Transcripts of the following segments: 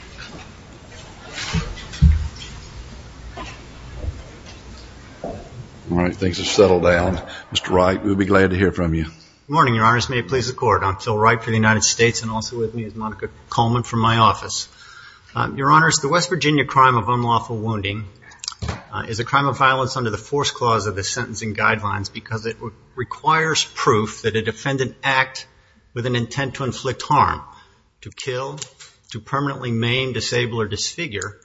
All right, things have settled down. Mr. Wright, we'll be glad to hear from you. Good morning, Your Honors. May it please the Court, I'm Phil Wright for the United States and also with me is Monica Coleman from my office. Your Honors, the West Virginia crime of unlawful wounding is a crime of violence under the Force Clause of the Sentencing Guidelines because it requires proof that a defendant act with an intent to inflict harm, to kill, to permanently maim, disable, or disfigure,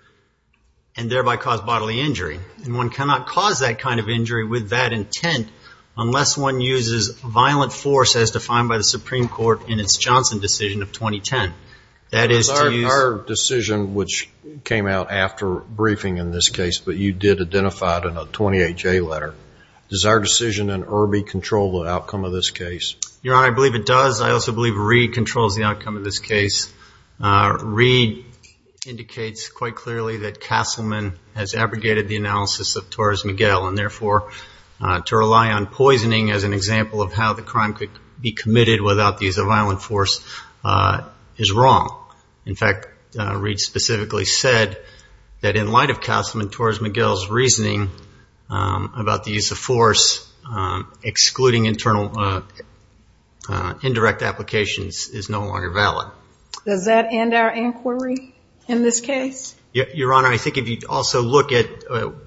and thereby cause bodily injury. And one cannot cause that kind of injury with that intent unless one uses violent force as defined by the Supreme Court in its Johnson decision of 2010. That is to use... It was our decision which came out after briefing in this case, but you did identify it in a 28-J letter. Does our decision in Irby control the outcome of this case? Your Honor, I believe it does. I also believe Reed controls the outcome of this case. Reed indicates quite clearly that Castleman has abrogated the analysis of Torres Miguel and therefore to rely on poisoning as an example of how the crime could be committed without the use of violent force is wrong. In fact, Reed specifically said that in light of Castleman, indirect application is no longer valid. Does that end our inquiry in this case? Your Honor, I think if you also look at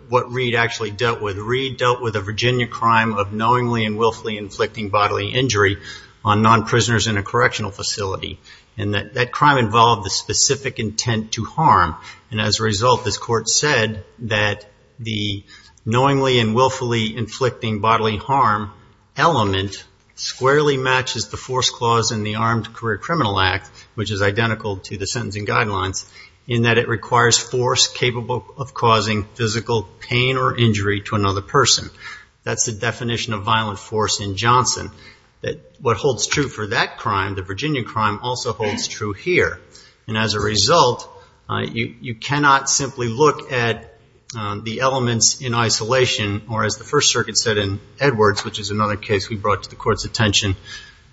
what Reed actually dealt with, Reed dealt with a Virginia crime of knowingly and willfully inflicting bodily injury on non-prisoners in a correctional facility. And that crime involved the specific intent to harm. And as a result, this Court said that the knowingly and willfully inflicting bodily harm element squarely matches the force clause in the Armed Career Criminal Act, which is identical to the sentencing guidelines, in that it requires force capable of causing physical pain or injury to another person. That's the definition of violent force in Johnson. What holds true for that crime, the Virginia crime, also holds true here. And as a result, you cannot simply look at the elements in isolation or as the First Circuit said in Edwards, which is another case we brought to the Court's attention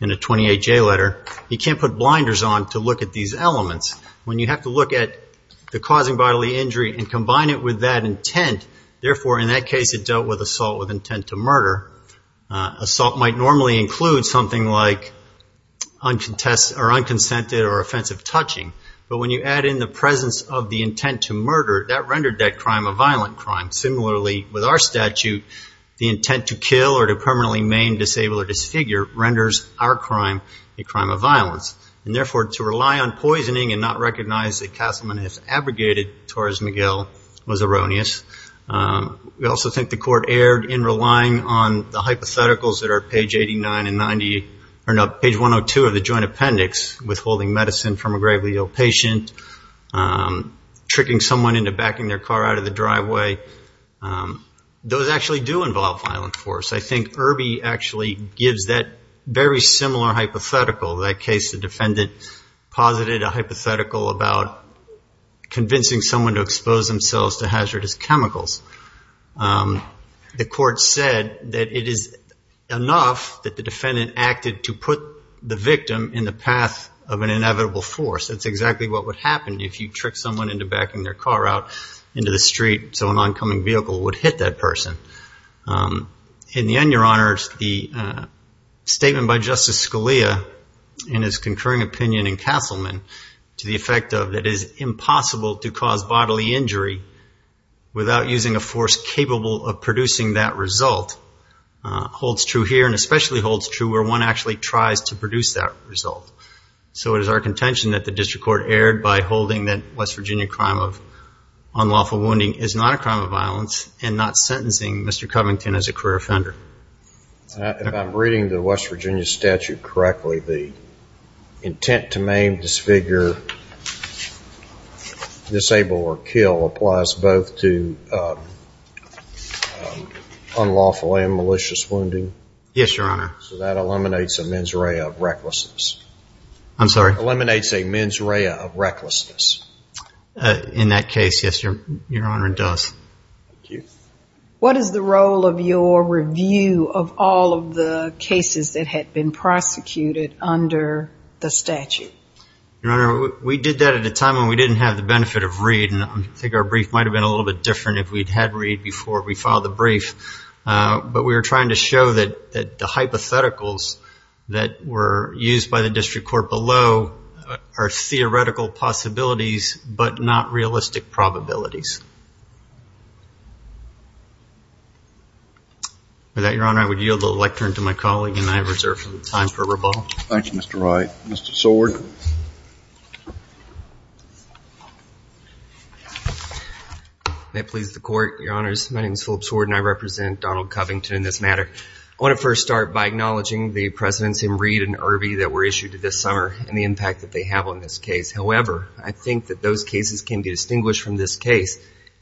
in a 28-J letter, you can't put blinders on to look at these elements. When you have to look at the causing bodily injury and combine it with that intent, therefore in that case it dealt with assault with intent to murder. Assault might normally include something like unconsented or offensive touching. But when you add in the presence of the intent to murder, that rendered that crime a violent crime. Similarly, with our statute, the intent to kill or to permanently maim, disable or disfigure renders our crime a crime of violence. And therefore, to rely on poisoning and not recognize that Castleman has abrogated Torres Miguel was erroneous. We also think the Court erred in relying on the hypotheticals that are at page 89 and 90, or no, page 102 of the joint appendix, withholding medicine from a gravely ill patient, tricking someone into backing their car out of the driveway. Those actually do involve violent force. I think Irby actually gives that very similar hypothetical, that case the defendant posited a hypothetical about convincing someone to expose themselves to hazardous chemicals. The Court said that it is enough that the defendant acted to put the victim in the path of an inevitable force. That's exactly what would happen if you trick someone into backing their car out into the street so an oncoming vehicle would hit that person. In the end, Your Honors, the statement by Justice Scalia in his concurring opinion in Castleman to the effect of it is impossible to cause bodily injury without using a force capable of producing that result holds true here and especially holds true where one actually tries to produce that result. So it is our intention that the District Court erred by holding that West Virginia crime of unlawful wounding is not a crime of violence and not sentencing Mr. Covington as a career offender. If I'm reading the West Virginia statute correctly, the intent to maim, disfigure, disable or kill applies both to unlawful and malicious wounding? Yes, Your Honor. So that eliminates a mens rea of recklessness? I'm sorry? Eliminates a mens rea of recklessness? In that case, yes, Your Honor, it does. Thank you. What is the role of your review of all of the cases that had been prosecuted under the statute? Your Honor, we did that at a time when we didn't have the benefit of Reed and I think our brief might have been a little bit different if we'd had Reed before we filed the brief. But we were trying to show that the hypotheticals that were used by the District Court below are theoretical possibilities but not realistic probabilities. With that, Your Honor, I would yield the lectern to my colleague and I reserve the time for rebuttal. Thank you, Mr. Wright. Mr. Seward. May it please the Court, Your Honors, my name is Philip Seward and I represent Donald Covington in this matter. I want to first start by acknowledging the precedents in Reed and Irby that were issued this summer and the impact that they have on this case. However, I think that those cases can be distinguished from this case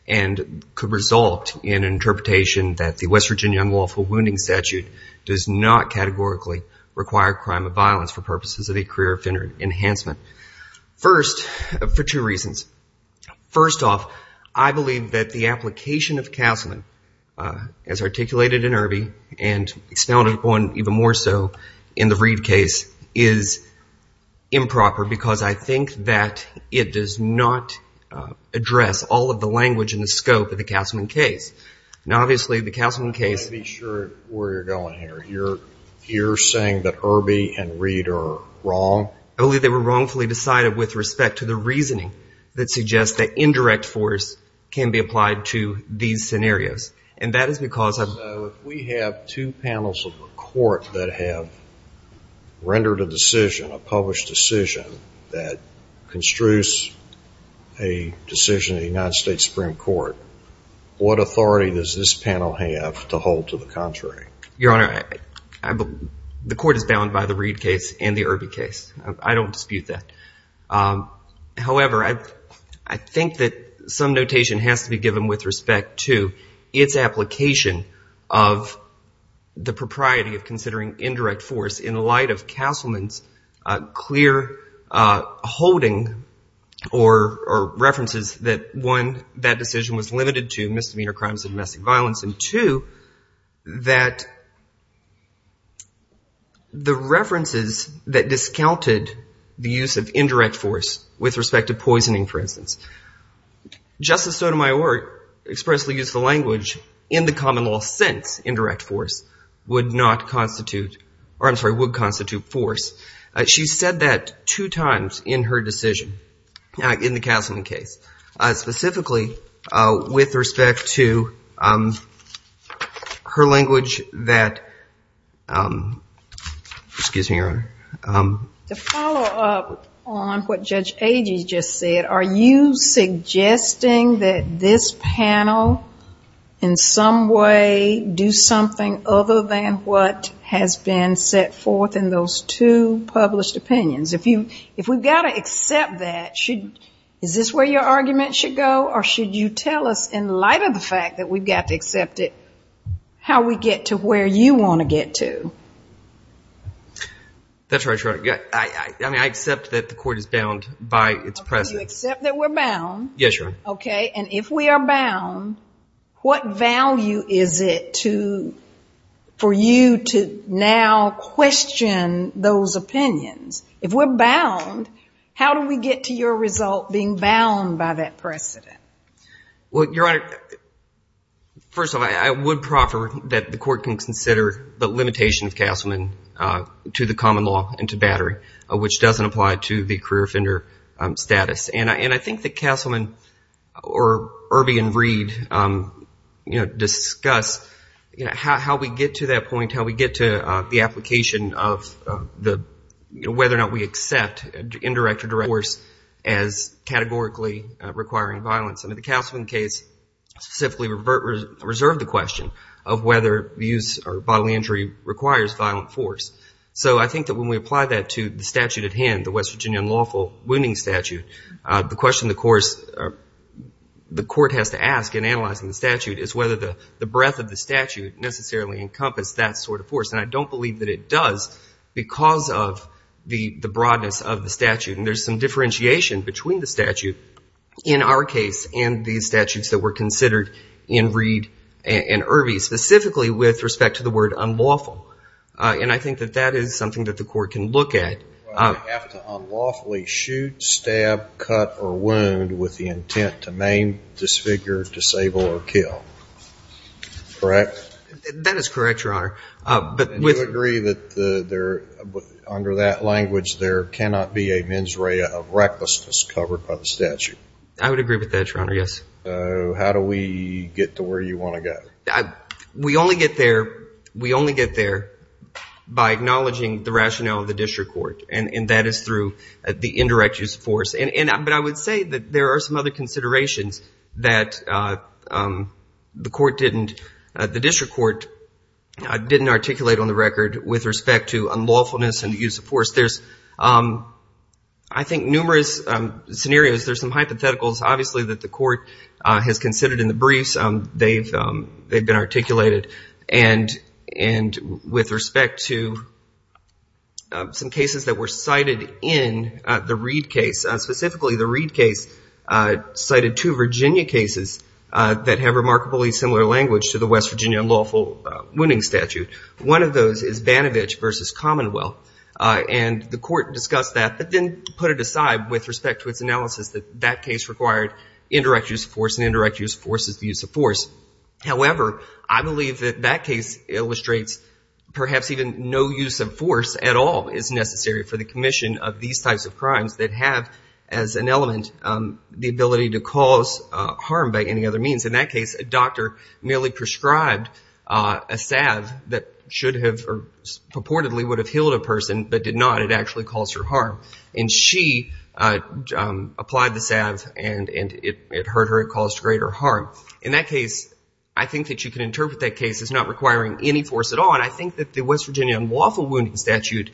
and could result in an interpretation that the West Virginia Unlawful Wounding Statute does not categorically require crime of violence for purposes of a career offender enhancement. First for two reasons. First off, I believe that the application of counsel as articulated in Irby and expounded upon even more so in the Reed case is improper because I think that it does not address all of the language and the scope of the Castleman case. Now obviously the Castleman case I want to be sure where you're going here. You're saying that Irby and Reed are wrong? I believe they were wrongfully decided with respect to the reasoning that suggests that indirect force can be applied to these scenarios. And that is because of So if we have two panels of the Court that have rendered a decision, a published decision that construes a decision of the United States Supreme Court, what authority does this panel have to hold to the contrary? Your Honor, the Court is bound by the Reed case and the Irby case. I don't dispute that. However, I think that some notation has to be given with respect to its application of the propriety of considering indirect force in light of Castleman's clear holding or references that one, that decision was limited to misdemeanor crimes of domestic violence and two, that the references that discounted the use of indirect force with respect to poisoning, for instance, Justice Sotomayor expressly used the language in the common law since indirect force would not constitute, or I'm sorry, would constitute force. She said that two times in her decision in the Castleman case, specifically with respect to her language that, excuse me, Your Honor. To follow up on what Judge Agee just said, are you suggesting that this panel in some way do something other than what has been set forth in those two published opinions? If we've got to accept that, is this where your argument should go or should you tell us in light of the fact that we've got to accept it, how we get to where you want to get to? That's right, Your Honor. I accept that the court is bound by its precedent. You accept that we're bound. Yes, Your Honor. If we are bound, what value is it for you to now question those opinions? If we're bound, how do we get to your result being bound by that precedent? Well, Your Honor, first of all, I would proffer that the court can consider the limitation of Castleman to the common law and to battery, which doesn't apply to the career offender status. I think that Castleman or Irby and Reed discuss how we get to that point, how we get to the application of whether or not we accept indirect or direct force as categorically requiring violence. I mean, the Castleman case specifically reserved the question of whether bodily injury requires violent force. So I think that when we apply that to the statute at hand, the West Virginia unlawful wounding statute, the question the court has to ask in analyzing the statute is whether the breadth of the statute necessarily encompass that sort of force. And I don't believe that it does because of the broadness of the statute. And there's some differentiation between the statute in our case and the statutes that were considered in Reed and Irby, specifically with respect to the word unlawful. And I think that that is something that the court can look at. Do I have to unlawfully shoot, stab, cut, or wound with the intent to maim, disfigure, disable, or kill? Correct? That is correct, Your Honor. Do you agree that under that language, there cannot be a mens rea of recklessness covered by the statute? I would agree with that, Your Honor, yes. So how do we get to where you want to go? We only get there by acknowledging the rationale of the district court. And that is through the indirect use of force. But I would say that there are some other considerations that the district court didn't articulate on the record with respect to unlawfulness and use of force. I think numerous scenarios, there's some hypotheticals, obviously, that the court has considered in the briefs. They've been articulated. And with respect to some cases that were cited in the Reed case, specifically the Reed case cited two Virginia cases that have remarkably similar language to the West Virginia unlawful wounding statute. One of those is Banovich v. Commonwealth. And the court discussed that, but then put it aside with respect to its analysis that that case required indirect use of force, and indirect use of force is the use of force. However, I believe that that case illustrates perhaps even no use of force at all is necessary for the commission of these types of crimes that have as an element the ability to cause harm by any other means. In that case, a doctor merely prescribed a salve that should have or purportedly would have healed a person but did not. It actually caused her harm. And she applied the salve and it hurt her. It caused greater harm. In that case, I think that you can interpret that case as not requiring any force at all. But I think that the West Virginia unlawful wounding statute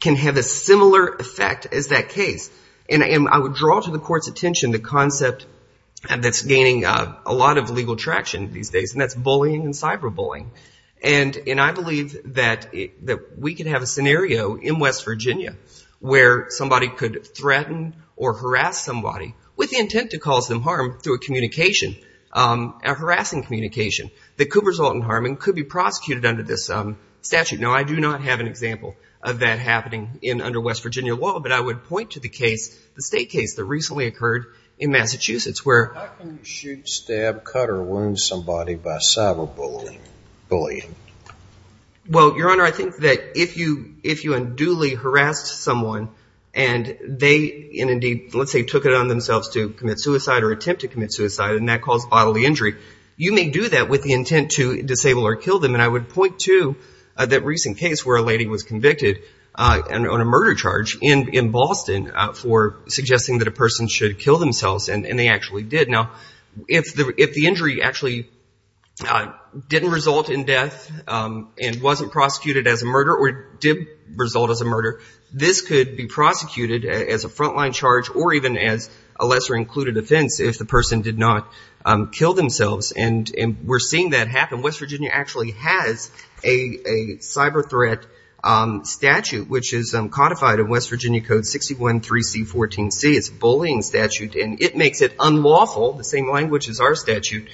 can have a similar effect as that case. And I would draw to the court's attention the concept that's gaining a lot of legal traction these days, and that's bullying and cyberbullying. And I believe that we could have a scenario in West Virginia where somebody could threaten or harass somebody with the intent to cause them harm through a communication, a harassing communication, that could result in harm and could be prosecuted under this statute. Now, I do not have an example of that happening under West Virginia law, but I would point to the case, the state case that recently occurred in Massachusetts where How can you shoot, stab, cut, or wound somebody by cyberbullying? Well, Your Honor, I think that if you unduly harassed someone and they indeed, let's say took it on themselves to commit suicide or attempt to commit suicide and that caused bodily injury, you may do that with the intent to disable or kill them. And I would point to that recent case where a lady was convicted on a murder charge in Boston for suggesting that a person should kill themselves, and they actually did. Now, if the injury actually didn't result in death and wasn't prosecuted as a murder or did result as a murder, this could be prosecuted as a frontline charge or even as a lesser included offense if the person did not kill themselves. And we're seeing that happen. West Virginia actually has a cyberthreat statute, which is codified in West Virginia Code 61-3C-14C. It's a bullying statute, and it makes it unlawful, the same language as our statute,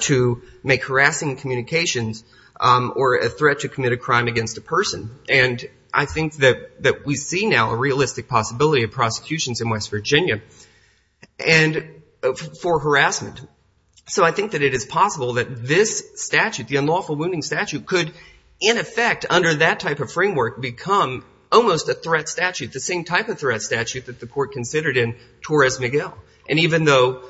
to make harassing communications or a threat to commit a crime against a person. And I think that we see now a realistic possibility of prosecutions in West Virginia for harassment. So I think that it is possible that this statute, the unlawful wounding statute, could, in effect, under that type of framework, become almost a threat statute, the same type of threat statute that the court considered in Torres-Miguel. And even though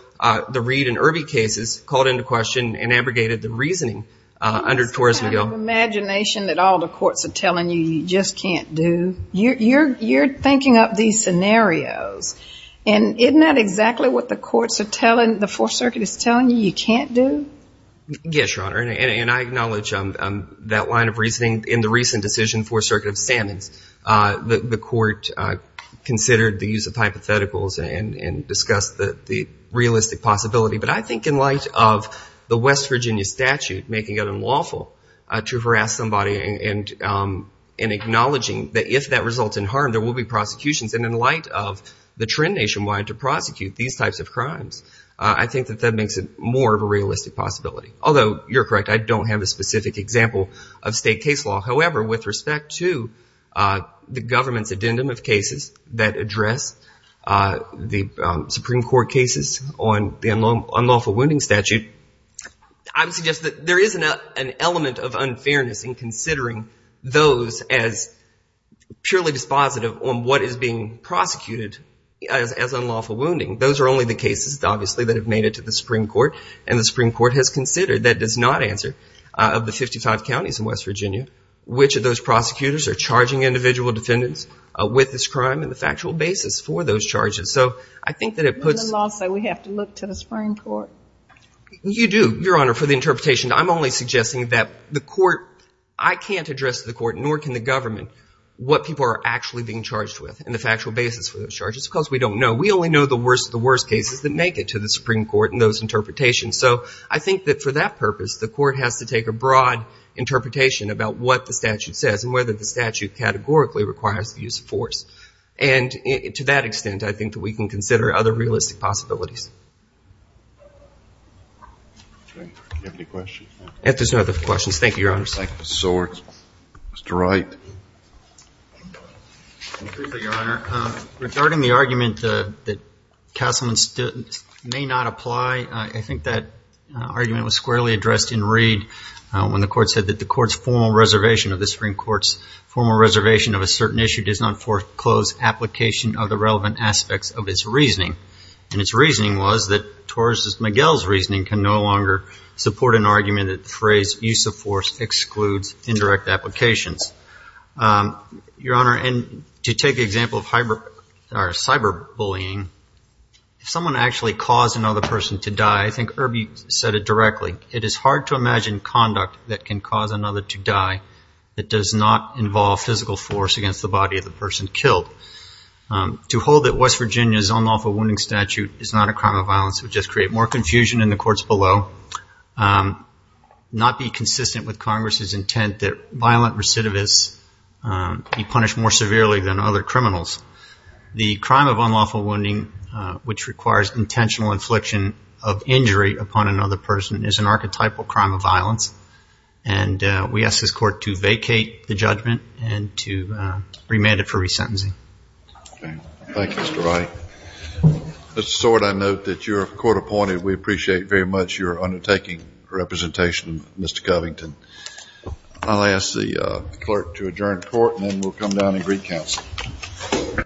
the Reed and Irby cases called into question and abrogated the reasoning under Torres-Miguel. Imagination that all the courts are telling you you just can't do. You're thinking up these scenarios. And isn't that exactly what the courts are telling, the Fourth Circuit is telling you you can't do? Yes, Your Honor. And I acknowledge that line of reasoning in the recent decision, Fourth Circuit of Sammons. The court considered the use of hypotheticals and discussed the realistic possibility. But I think in light of the West Virginia statute making it unlawful to harass somebody and acknowledging that if that results in harm, there will be prosecutions. And in light of the trend nationwide to prosecute these types of crimes, I think that that makes it more of a realistic possibility. Although, you're correct, I don't have a specific example of state case law. However, with respect to the government's addendum of cases that address the Supreme Court cases on criminal and unlawful wounding statute, I would suggest that there is an element of unfairness in considering those as purely dispositive on what is being prosecuted as unlawful wounding. Those are only the cases, obviously, that have made it to the Supreme Court. And the Supreme Court has considered that does not answer of the 55 counties in West Virginia which of those prosecutors are charging individual defendants with this crime and the factual basis for those charges. So I think that it puts In the lawsuit, we have to look to the Supreme Court. You do, Your Honor, for the interpretation. I'm only suggesting that the court, I can't address the court nor can the government what people are actually being charged with and the factual basis for those charges because we don't know. We only know the worst of the worst cases that make it to the Supreme Court in those interpretations. So I think that for that purpose, the court has to take a broad interpretation about what the statute says and whether the statute categorically requires the use of force. And to that extent, I think that we can consider other realistic possibilities. Do you have any questions? If there's no other questions, thank you, Your Honor. Thank you, Mr. Zortz. Mr. Wright. Thank you, Your Honor. Regarding the argument that Castleman may not apply, I think that argument was squarely addressed in Reed when the court said that the court's formal reservation of the Supreme Court's formal reservation of a certain issue does not foreclose application of the relevant aspects of its reasoning. And its reasoning was that Torres' and McGill's reasoning can no longer support an argument that the phrase use of force excludes indirect applications. Your Honor, and to take the example of cyberbullying, if someone actually caused another person to die, I think Irby said it directly, it is hard to imagine conduct that can cause another to die that does not involve physical force against the body of the person killed. To hold that West Virginia's unlawful wounding statute is not a crime of violence would just create more confusion in the courts below, not be consistent with Congress's intent that violent recidivists be punished more severely than other criminals. The crime of unlawful wounding, which requires intentional infliction of injury upon another person, is an archetypal crime of violence. And we ask this court to vacate the judgment and to remand it for resentencing. Thank you, Mr. Wright. Mr. Stewart, I note that you're court appointed. We appreciate very much your undertaking representation, Mr. Covington. I'll ask the clerk to adjourn court and then we'll come down and greet counsel.